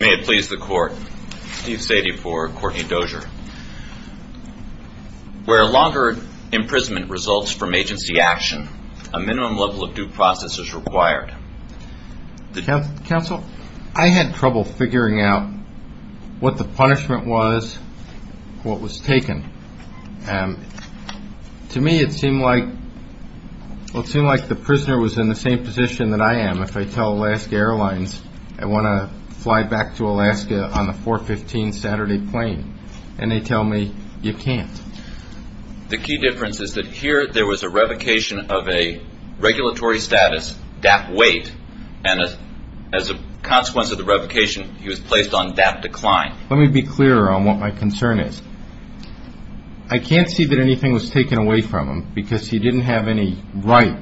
Where longer imprisonment results from agency action, a minimum level of due process is required. I had trouble figuring out what the punishment was, what was taken. To me it seemed like the prisoner was in the same position that I am if I tell Alaska Airlines I want to fly back to Alaska on the 415 Saturday plane, and they tell me you can't. The key difference is that here there was a revocation of a regulatory status, DAP wait, and as a consequence of the revocation he was placed on DAP decline. Let me be clear on what my concern is, I can't see that anything was taken away from him because he didn't have any right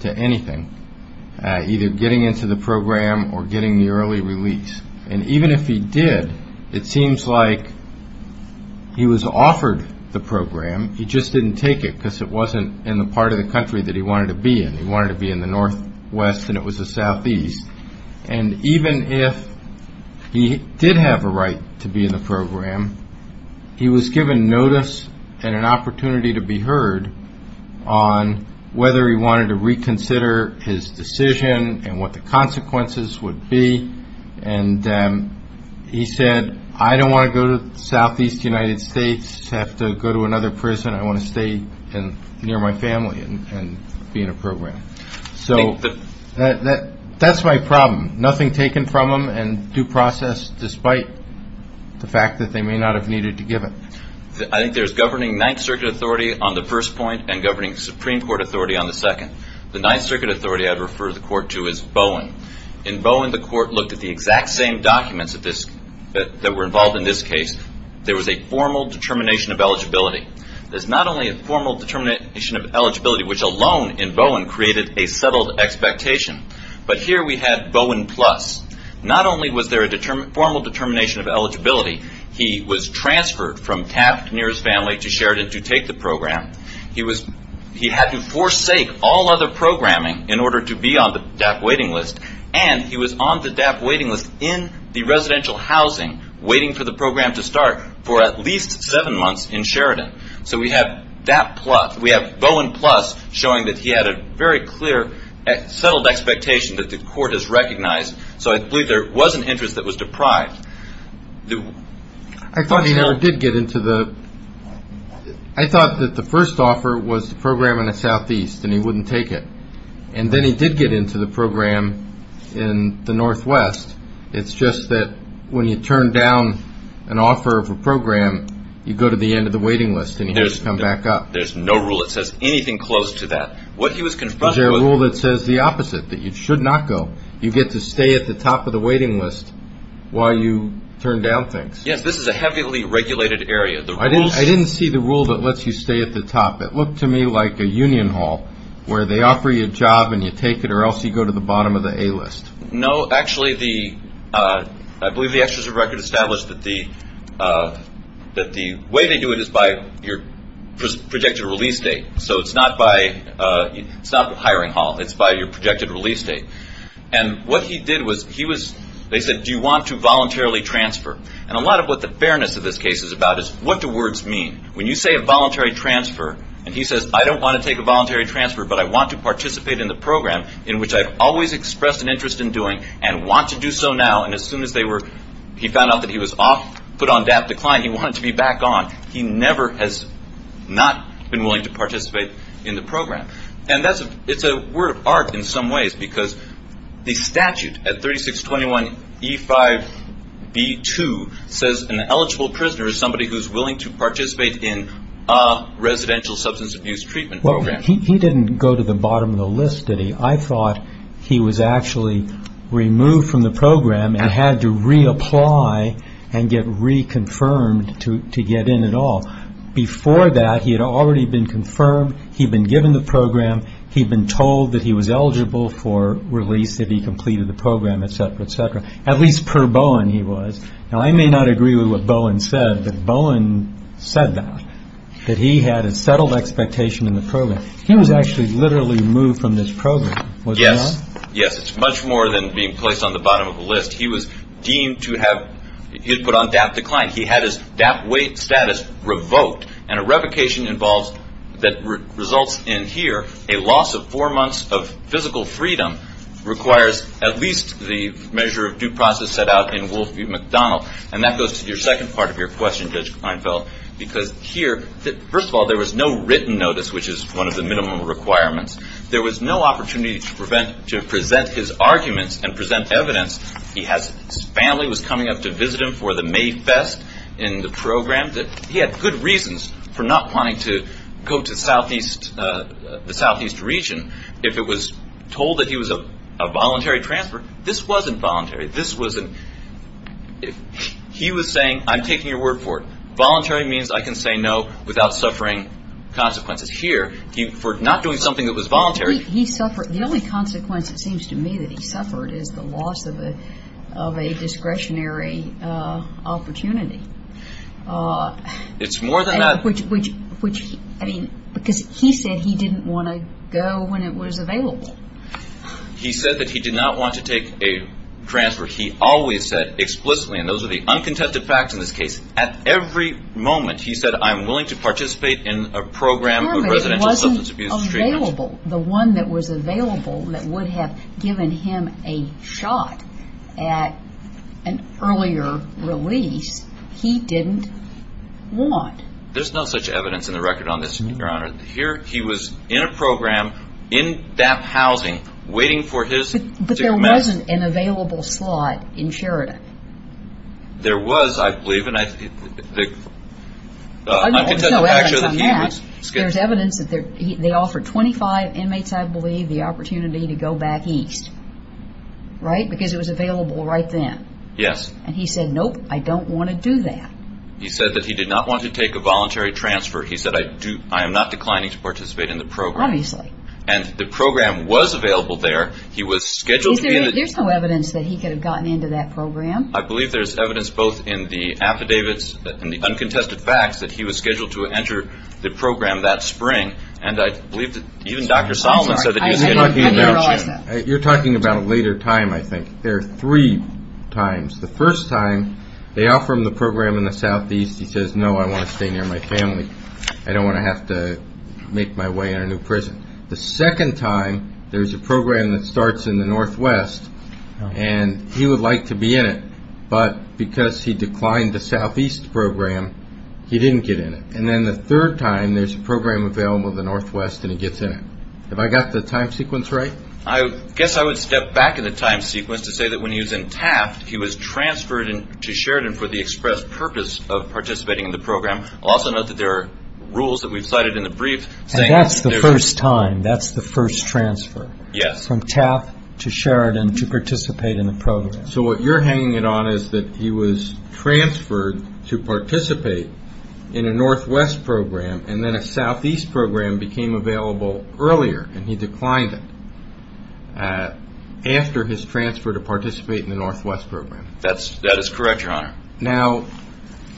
to anything, either getting into the program or getting the early release. Even if he did, it seems like he was offered the program, he just didn't take it because it wasn't in the part of the country that he wanted to be in. He wanted to be in the northwest and it was the southeast. Even if he did have a right to be in the program, he was given notice and an opportunity to be heard on whether he wanted to reconsider his decision and what the consequences would be. He said, I don't want to go to the southeast United States, I have to go to another prison, I want to stay near my family and be in a program. That's my problem. Nothing taken from him and due process despite the fact that they may not have needed to give it. I think there's governing Ninth Circuit authority on the first point and governing Supreme Court authority on the second. The Ninth Circuit authority I'd refer the court to is Bowen. In Bowen, the court looked at the exact same documents that were involved in this case. There was a formal determination of eligibility. There's not only a formal determination of eligibility, which alone in Bowen created a settled expectation, but here we had Bowen Plus. Not only was there a formal determination of eligibility, he was transferred from Taft near his family to Sheridan to take the program. He had to forsake all other programming in order to be on the DAP waiting list and he was on the DAP waiting list in the residential housing waiting for the program to start for at least seven months in Sheridan. We have Bowen Plus showing that he had a very clear settled expectation that the court has to go. I believe there was an interest that was deprived. I thought he never did get into the... I thought that the first offer was the program in the southeast and he wouldn't take it. And then he did get into the program in the northwest. It's just that when you turn down an offer of a program, you go to the end of the waiting list and he has to come back up. There's no rule that says anything close to that. What he was confronted with... There's a rule that says the opposite, that you should not go. You get to stay at the top of the waiting list while you turn down things. Yes, this is a heavily regulated area. I didn't see the rule that lets you stay at the top. It looked to me like a union hall where they offer you a job and you take it or else you go to the bottom of the A list. No, actually, I believe the executive record established that the way they do it is by your projected release date. So it's not hiring hall. It's by your projected release date. And what he did was, they said, do you want to voluntarily transfer? And a lot of what the fairness of this case is about is what do words mean? When you say a voluntary transfer and he says, I don't want to take a voluntary transfer, but I want to participate in the program in which I've always expressed an interest in doing and want to do so now. And as soon as he found out that he was off, put on DAP decline, he wanted to be back on. He never has not been willing to participate in the program. And it's a word of art in some ways because the statute at 3621 E5B2 says an eligible prisoner is somebody who is willing to participate in a residential substance abuse treatment program. He didn't go to the bottom of the list, did he? I thought he was actually removed from the program and had to reapply and get reconfirmed to get in at all. Before that, he had already been confirmed, he'd been given the program, he'd been told that he was eligible for release if he completed the program, etc., etc., at least per Bowen he was. Now, I may not agree with what Bowen said, but Bowen said that, that he had a settled expectation in the program. He was actually literally moved from this program, was he not? Yes. Yes. It's much more than being placed on the bottom of the list. He was deemed to have, he'd put on DAP decline. He had his DAP status revoked and a revocation involves, that results in here, a loss of four months of physical freedom requires at least the measure of due process set out in Wolf v. McDonnell. That goes to your second part of your question, Judge Kleinfeld, because here, first of all, there was no written notice, which is one of the minimum requirements. There was no opportunity to present his arguments and present evidence. He has, his family was coming up to visit him for the Mayfest in the program. He had good reasons for not wanting to go to Southeast, the Southeast region if it was told that he was a voluntary transfer. This wasn't voluntary. This wasn't, he was saying, I'm taking your word for it. Voluntary means I can say no without suffering consequences. Here, for not doing something that was voluntary. He suffered. The only consequence, it seems to me, that he suffered is the loss of a discretionary opportunity. It's more than that. Which, I mean, because he said he didn't want to go when it was available. He said that he did not want to take a transfer. He always said explicitly, and those are the uncontested facts in this case, at every moment, he said, I'm willing to participate in a program of residential substance abuse treatment. The one that was available that would have given him a shot at an earlier release, he didn't want. There's no such evidence in the record on this, Your Honor. Here, he was in a program, in that housing, waiting for his... But there wasn't an available slot in Charita. There was, I believe, and I think the uncontested facts show that he was... There's evidence that they offered 25 inmates, I believe, the opportunity to go back east. Right? Because it was available right then. Yes. And he said, nope, I don't want to do that. He said that he did not want to take a voluntary transfer. He said, I am not declining to participate in the program. Obviously. And the program was available there. He was scheduled to be in it. There's no evidence that he could have gotten into that program. I believe there's evidence both in the affidavits and the uncontested facts that he was scheduled to enter the program that spring. And I believe that even Dr. Solomon said that he was scheduled to be in it. You're talking about a later time, I think. There are three times. The first time, they offer him the program in the southeast. He says, no, I want to stay near my family. I don't want to have to make my way in a new prison. The second time, there's a program that starts in the northwest, and he would like to be in it. But because he declined the southeast program, he didn't get in it. And then the third time, there's a program available in the northwest, and he gets in it. Have I got the time sequence right? I guess I would step back in the time sequence to say that when he was in Taft, he was transferred to Sheridan for the express purpose of participating in the program. I'll also note that there are rules that we've cited in the brief saying that there's And that's the first time. That's the first transfer. Yes. From Taft to Sheridan to participate in the program. So what you're hanging it on is that he was transferred to participate in a northwest program, and then a southeast program became available earlier, and he declined it after his transfer to participate in the northwest program. That is correct, your honor. Now,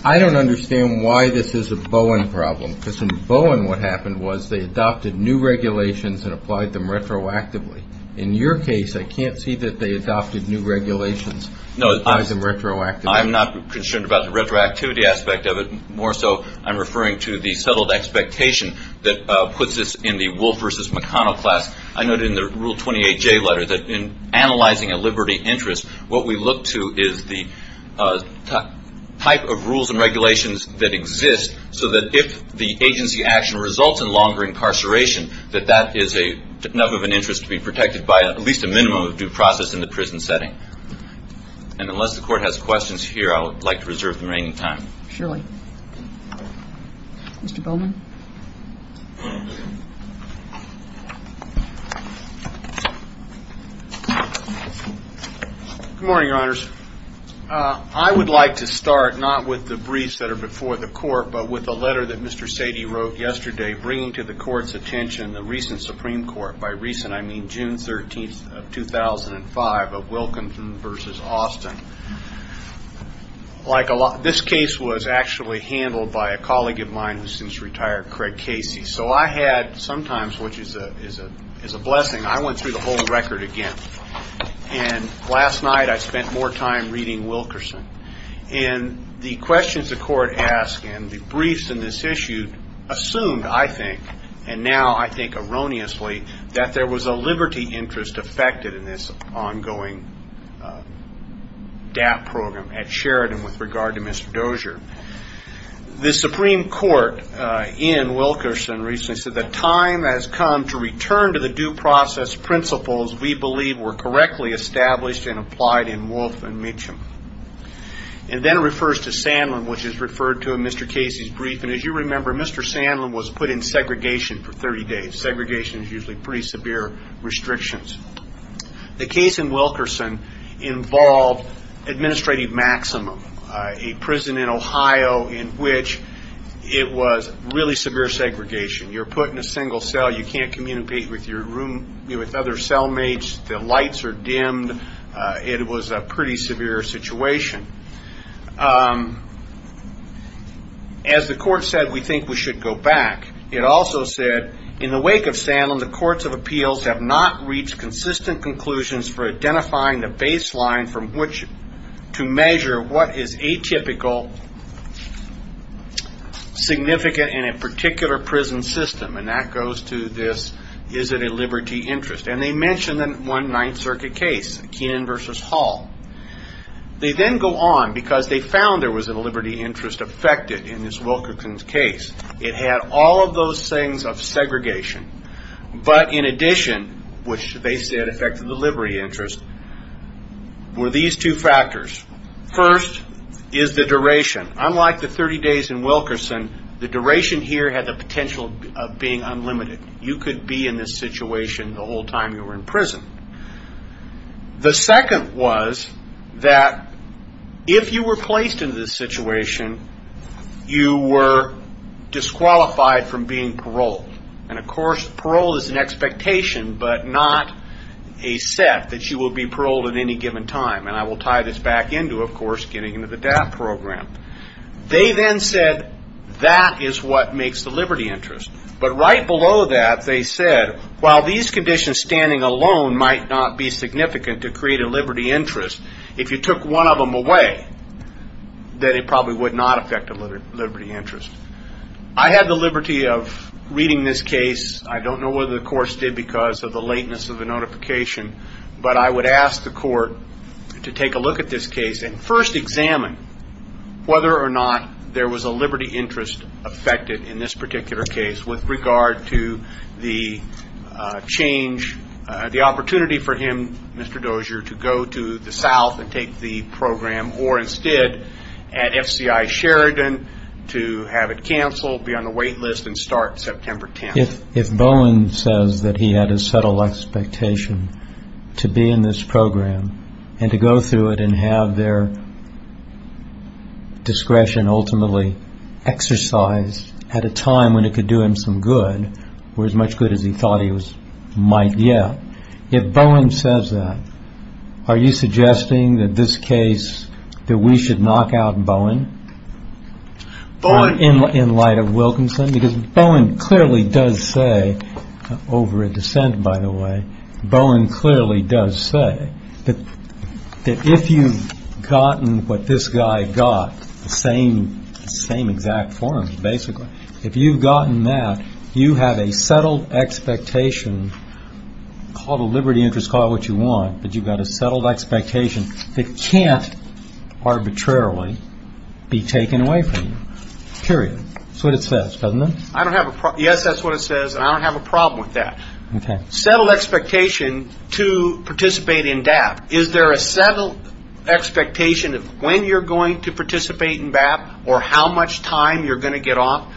I don't understand why this is a Bowen problem, because in Bowen, what happened was they adopted new regulations and applied them retroactively. In your case, I can't see that they adopted new regulations and applied them retroactively. I'm not concerned about the retroactivity aspect of it. More so, I'm referring to the settled expectation that puts this in the Wolf v. McConnell class. I noted in the Rule 28J letter that in analyzing a liberty interest, what we look to is the type of rules and regulations that exist so that if the agency action results in longer incarceration, that that is enough of an interest to be protected by at least a minimum of due process in the prison setting. And unless the court has questions here, I would like to reserve the remaining time. Surely. Mr. Bowman? Good morning, your honors. I would like to start not with the briefs that are before the court, but with the letter that Mr. Sady wrote yesterday, bringing to the court's attention the recent Supreme Court, by recent I mean June 13th of 2005, of Wilkinson v. Austin. This case was actually handled by a colleague of mine who's since retired, Craig Casey. So I had, sometimes, which is a blessing, I went through the whole record again. And last night, I spent more time reading Wilkerson. And the questions the court asked and the briefs in this issue assumed, I think, and now I think erroneously, that there was a liberty interest affected in this ongoing DAP program at Sheridan with regard to Mr. Dozier. The Supreme Court in Wilkerson recently said, the time has come to return to the due process principles we believe were correctly established and applied in Wolfe and Meacham. And then it refers to Sandlin, which is referred to in Mr. Casey's brief. And as you remember, Mr. Sandlin was put in segregation for 30 days. Segregation is usually pretty severe restrictions. The case in Wilkerson involved administrative maximum, a prison in Ohio in which it was really severe segregation. You're put in a single cell. You can't communicate with your room, with other cell mates. The lights are dimmed. It was a pretty severe situation. As the court said, we think we should go back. It also said, in the wake of Sandlin, the courts of appeals have not reached consistent conclusions for identifying the baseline from which to measure what is atypical, significant in a particular prison system. And that goes to this, is it a liberty interest? And they mentioned one Ninth Circuit case, Keenan v. Hall. They then go on, because they found there was a liberty interest affected in this Wilkerson case. It had all of those things of segregation. But in addition, which they said affected the liberty interest, were these two factors. First is the duration. Unlike the 30 days in Wilkerson, the duration here had the potential of being unlimited. You could be in this situation the whole time you were in prison. The second was that if you were placed in this situation, you were disqualified from being paroled. And of course, parole is an expectation, but not a set that you will be paroled at any given time. And I will tie this back into, of course, getting into the DAP program. They then said that is what makes the liberty interest. But right below that, they said, while these conditions standing alone might not be significant to create a liberty interest, if you took one of them away, then it probably would not affect the liberty interest. I had the liberty of reading this case. I don't know whether the courts did because of the lateness of the notification, but I to take a look at this case and first examine whether or not there was a liberty interest affected in this particular case with regard to the change, the opportunity for him, Mr. Dozier, to go to the South and take the program or instead at FCI Sheridan to have it canceled, be on the wait list and start September 10th. If Bowen says that he had a subtle expectation to be in this program and to go through it and have their discretion ultimately exercised at a time when it could do him some good or as much good as he thought he might get, if Bowen says that, are you suggesting that this over a dissent, by the way, Bowen clearly does say that if you've gotten what this guy got, the same exact form, basically, if you've gotten that, you have a settled expectation called a liberty interest, call it what you want, but you've got a settled expectation that can't arbitrarily be taken away from you, period. That's what it says, doesn't it? Yes, that's what it says, and I don't have a problem with that. Settled expectation to participate in DAPT, is there a settled expectation of when you're going to participate in DAPT or how much time you're going to get off?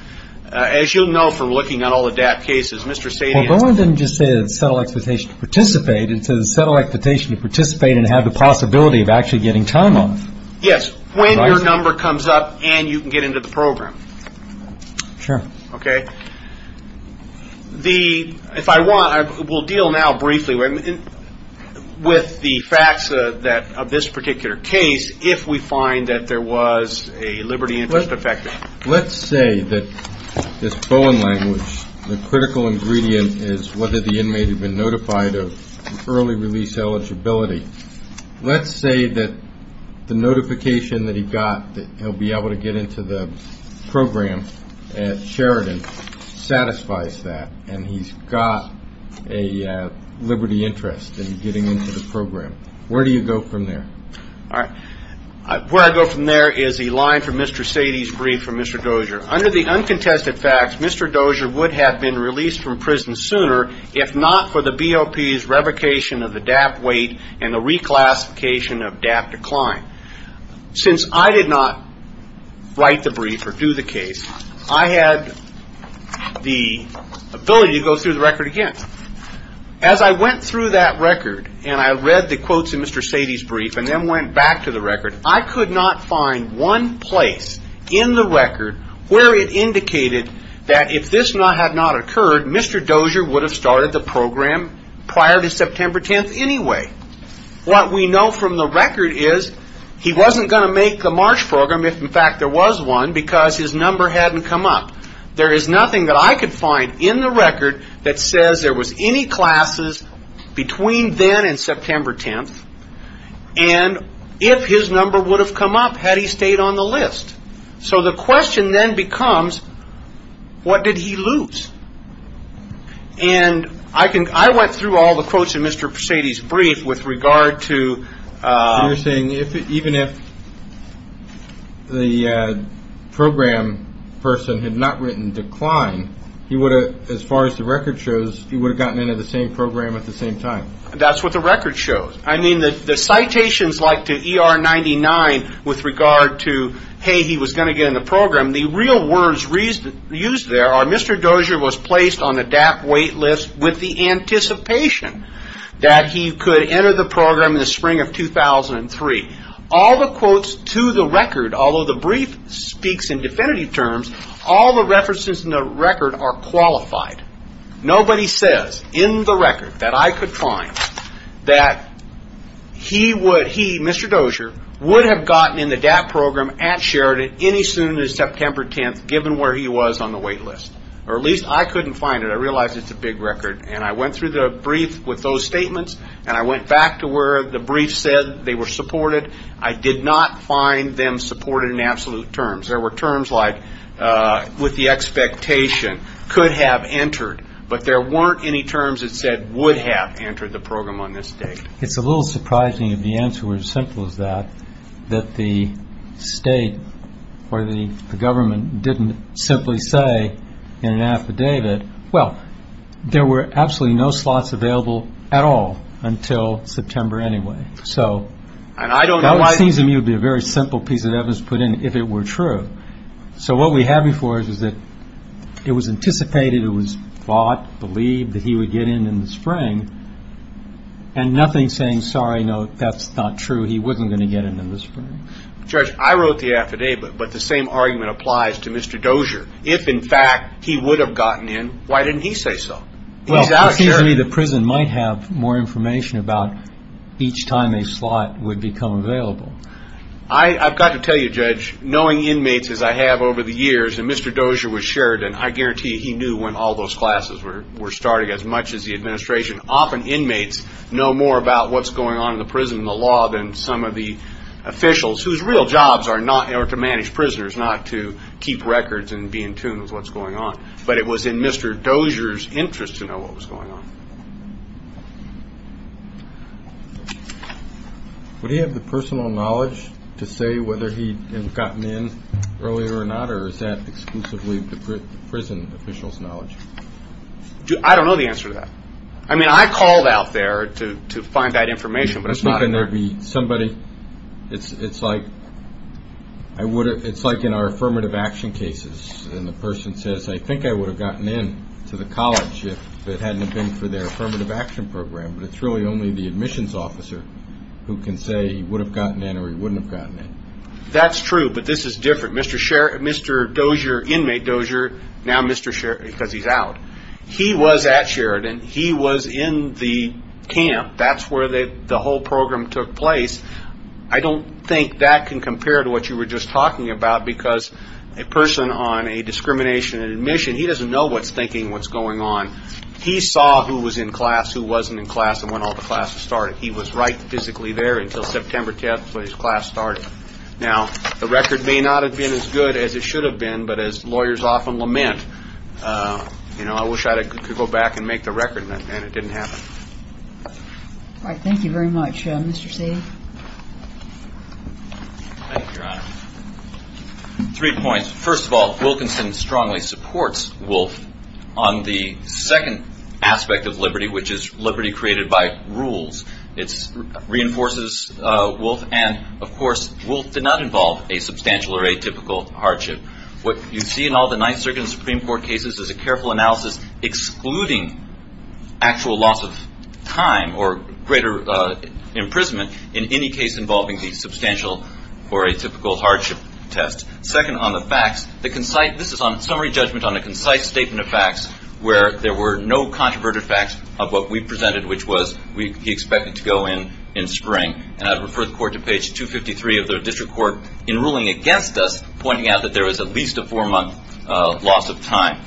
As you'll know from looking at all the DAPT cases, Mr. Sadian's- Well, Bowen didn't just say a settled expectation to participate, it says a settled expectation to participate and have the possibility of actually getting time off. Yes, when your number comes up and you can get into the program. Sure. Okay? If I want, we'll deal now, briefly, with the facts of this particular case, if we find that there was a liberty interest affected. Let's say that this Bowen language, the critical ingredient is whether the inmate had been notified of early release eligibility. Let's say that the notification that he got that he'll be able to get into the program at Sheridan satisfies that and he's got a liberty interest in getting into the program. Where do you go from there? All right. Where I go from there is a line from Mr. Sadian's brief from Mr. Dozier. Under the uncontested facts, Mr. Dozier would have been released from prison sooner if not for the BOP's revocation of the DAPT weight and the reclassification of DAPT decline. Since I did not write the brief or do the case, I had the ability to go through the record again. As I went through that record and I read the quotes in Mr. Sadian's brief and then went back to the record, I could not find one place in the record where it indicated that if this had not occurred, Mr. Dozier would have started the program prior to September 10th anyway. What we know from the record is he wasn't going to make the March program if in fact there was one because his number hadn't come up. There is nothing that I could find in the record that says there was any classes between then and September 10th and if his number would have come up had he stayed on the list. The question then becomes, what did he lose? I went through all the quotes in Mr. Sadian's brief with regard to... You're saying even if the program person had not written decline, as far as the record shows, he would have gotten into the same program at the same time. That's what the record shows. The citations like to ER99 with regard to, hey, he was going to get in the program, the real words used there are Mr. Dozier was placed on the DAP wait list with the anticipation that he could enter the program in the spring of 2003. All the quotes to the record, although the brief speaks in definitive terms, all the references in the record are qualified. Nobody says in the record that I could find that he, Mr. Dozier, would have gotten in the DAP program at Sheridan any sooner than September 10th given where he was on the wait list. Or at least I couldn't find it. I realize it's a big record. And I went through the brief with those statements and I went back to where the brief said they were supported. I did not find them supported in absolute terms. There were terms like with the expectation, could have entered, but there weren't any terms that said would have entered the program on this date. It's a little surprising if the answer were as simple as that, that the state or the government didn't simply say in an affidavit, well, there were absolutely no slots available at all until September anyway. So it seems to me it would be a very simple piece of evidence to put in if it were true. So what we have before us is that it was anticipated, it was thought, believed that he would get in in the spring and nothing saying, sorry, no, that's not true. He wasn't going to get in in the spring. Judge, I wrote the affidavit, but the same argument applies to Mr. Dozier. If in fact he would have gotten in, why didn't he say so? He's out of Sheridan. Well, it seems to me the prison might have more information about each time a slot would become available. I've got to tell you, Judge, knowing inmates as I have over the years and Mr. Dozier was he knew when all those classes were starting as much as the administration. Often inmates know more about what's going on in the prison and the law than some of the officials whose real jobs are to manage prisoners, not to keep records and be in tune with what's going on. But it was in Mr. Dozier's interest to know what was going on. Would he have the personal knowledge to say whether he had gotten in earlier or not? Or is that exclusively the prison official's knowledge? I don't know the answer to that. I mean, I called out there to find that information, but it's not. It's like in our affirmative action cases, and the person says, I think I would have gotten in to the college if it hadn't been for their affirmative action program. But it's really only the admissions officer who can say he would have gotten in or he wouldn't have gotten in. That's true, but this is different. Mr. Dozier, inmate Dozier, now Mr. Sheridan, because he's out. He was at Sheridan. He was in the camp. That's where the whole program took place. I don't think that can compare to what you were just talking about because a person on a discrimination in admission, he doesn't know what's thinking, what's going on. He saw who was in class, who wasn't in class, and when all the classes started. He was right physically there until September 10th when his class started. Now, the record may not have been as good as it should have been, but as lawyers often lament, I wish I could go back and make the record and it didn't happen. All right. Thank you very much. Mr. Seay. Thank you, Your Honor. Three points. First of all, Wilkinson strongly supports Wolfe on the second aspect of liberty, which is liberty created by rules. It reinforces Wolfe and, of course, Wolfe did not involve a substantial or atypical hardship. What you see in all the Ninth Circuit and Supreme Court cases is a careful analysis excluding actual loss of time or greater imprisonment in any case involving the substantial or atypical hardship test. Second, on the facts, this is on summary judgment on a concise statement of facts where there were no controverted facts of what we presented, which was he expected to go in in spring. And I'd refer the Court to page 253 of the District Court in ruling against us, pointing out that there was at least a four-month loss of time.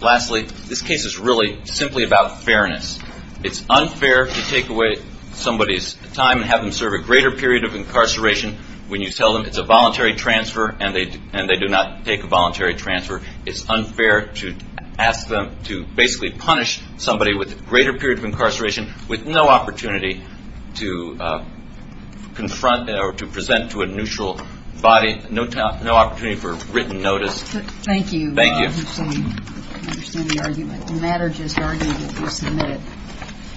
Lastly, this case is really simply about fairness. It's unfair to take away somebody's time and have them serve a greater period of incarceration when you tell them it's a voluntary transfer and they do not take a voluntary transfer. It's unfair to ask them to basically punish somebody with a greater period of incarceration with no opportunity to confront or to present to a neutral body, no opportunity for written notice. Thank you. Thank you. I understand the argument. The matter just argued that you submit it.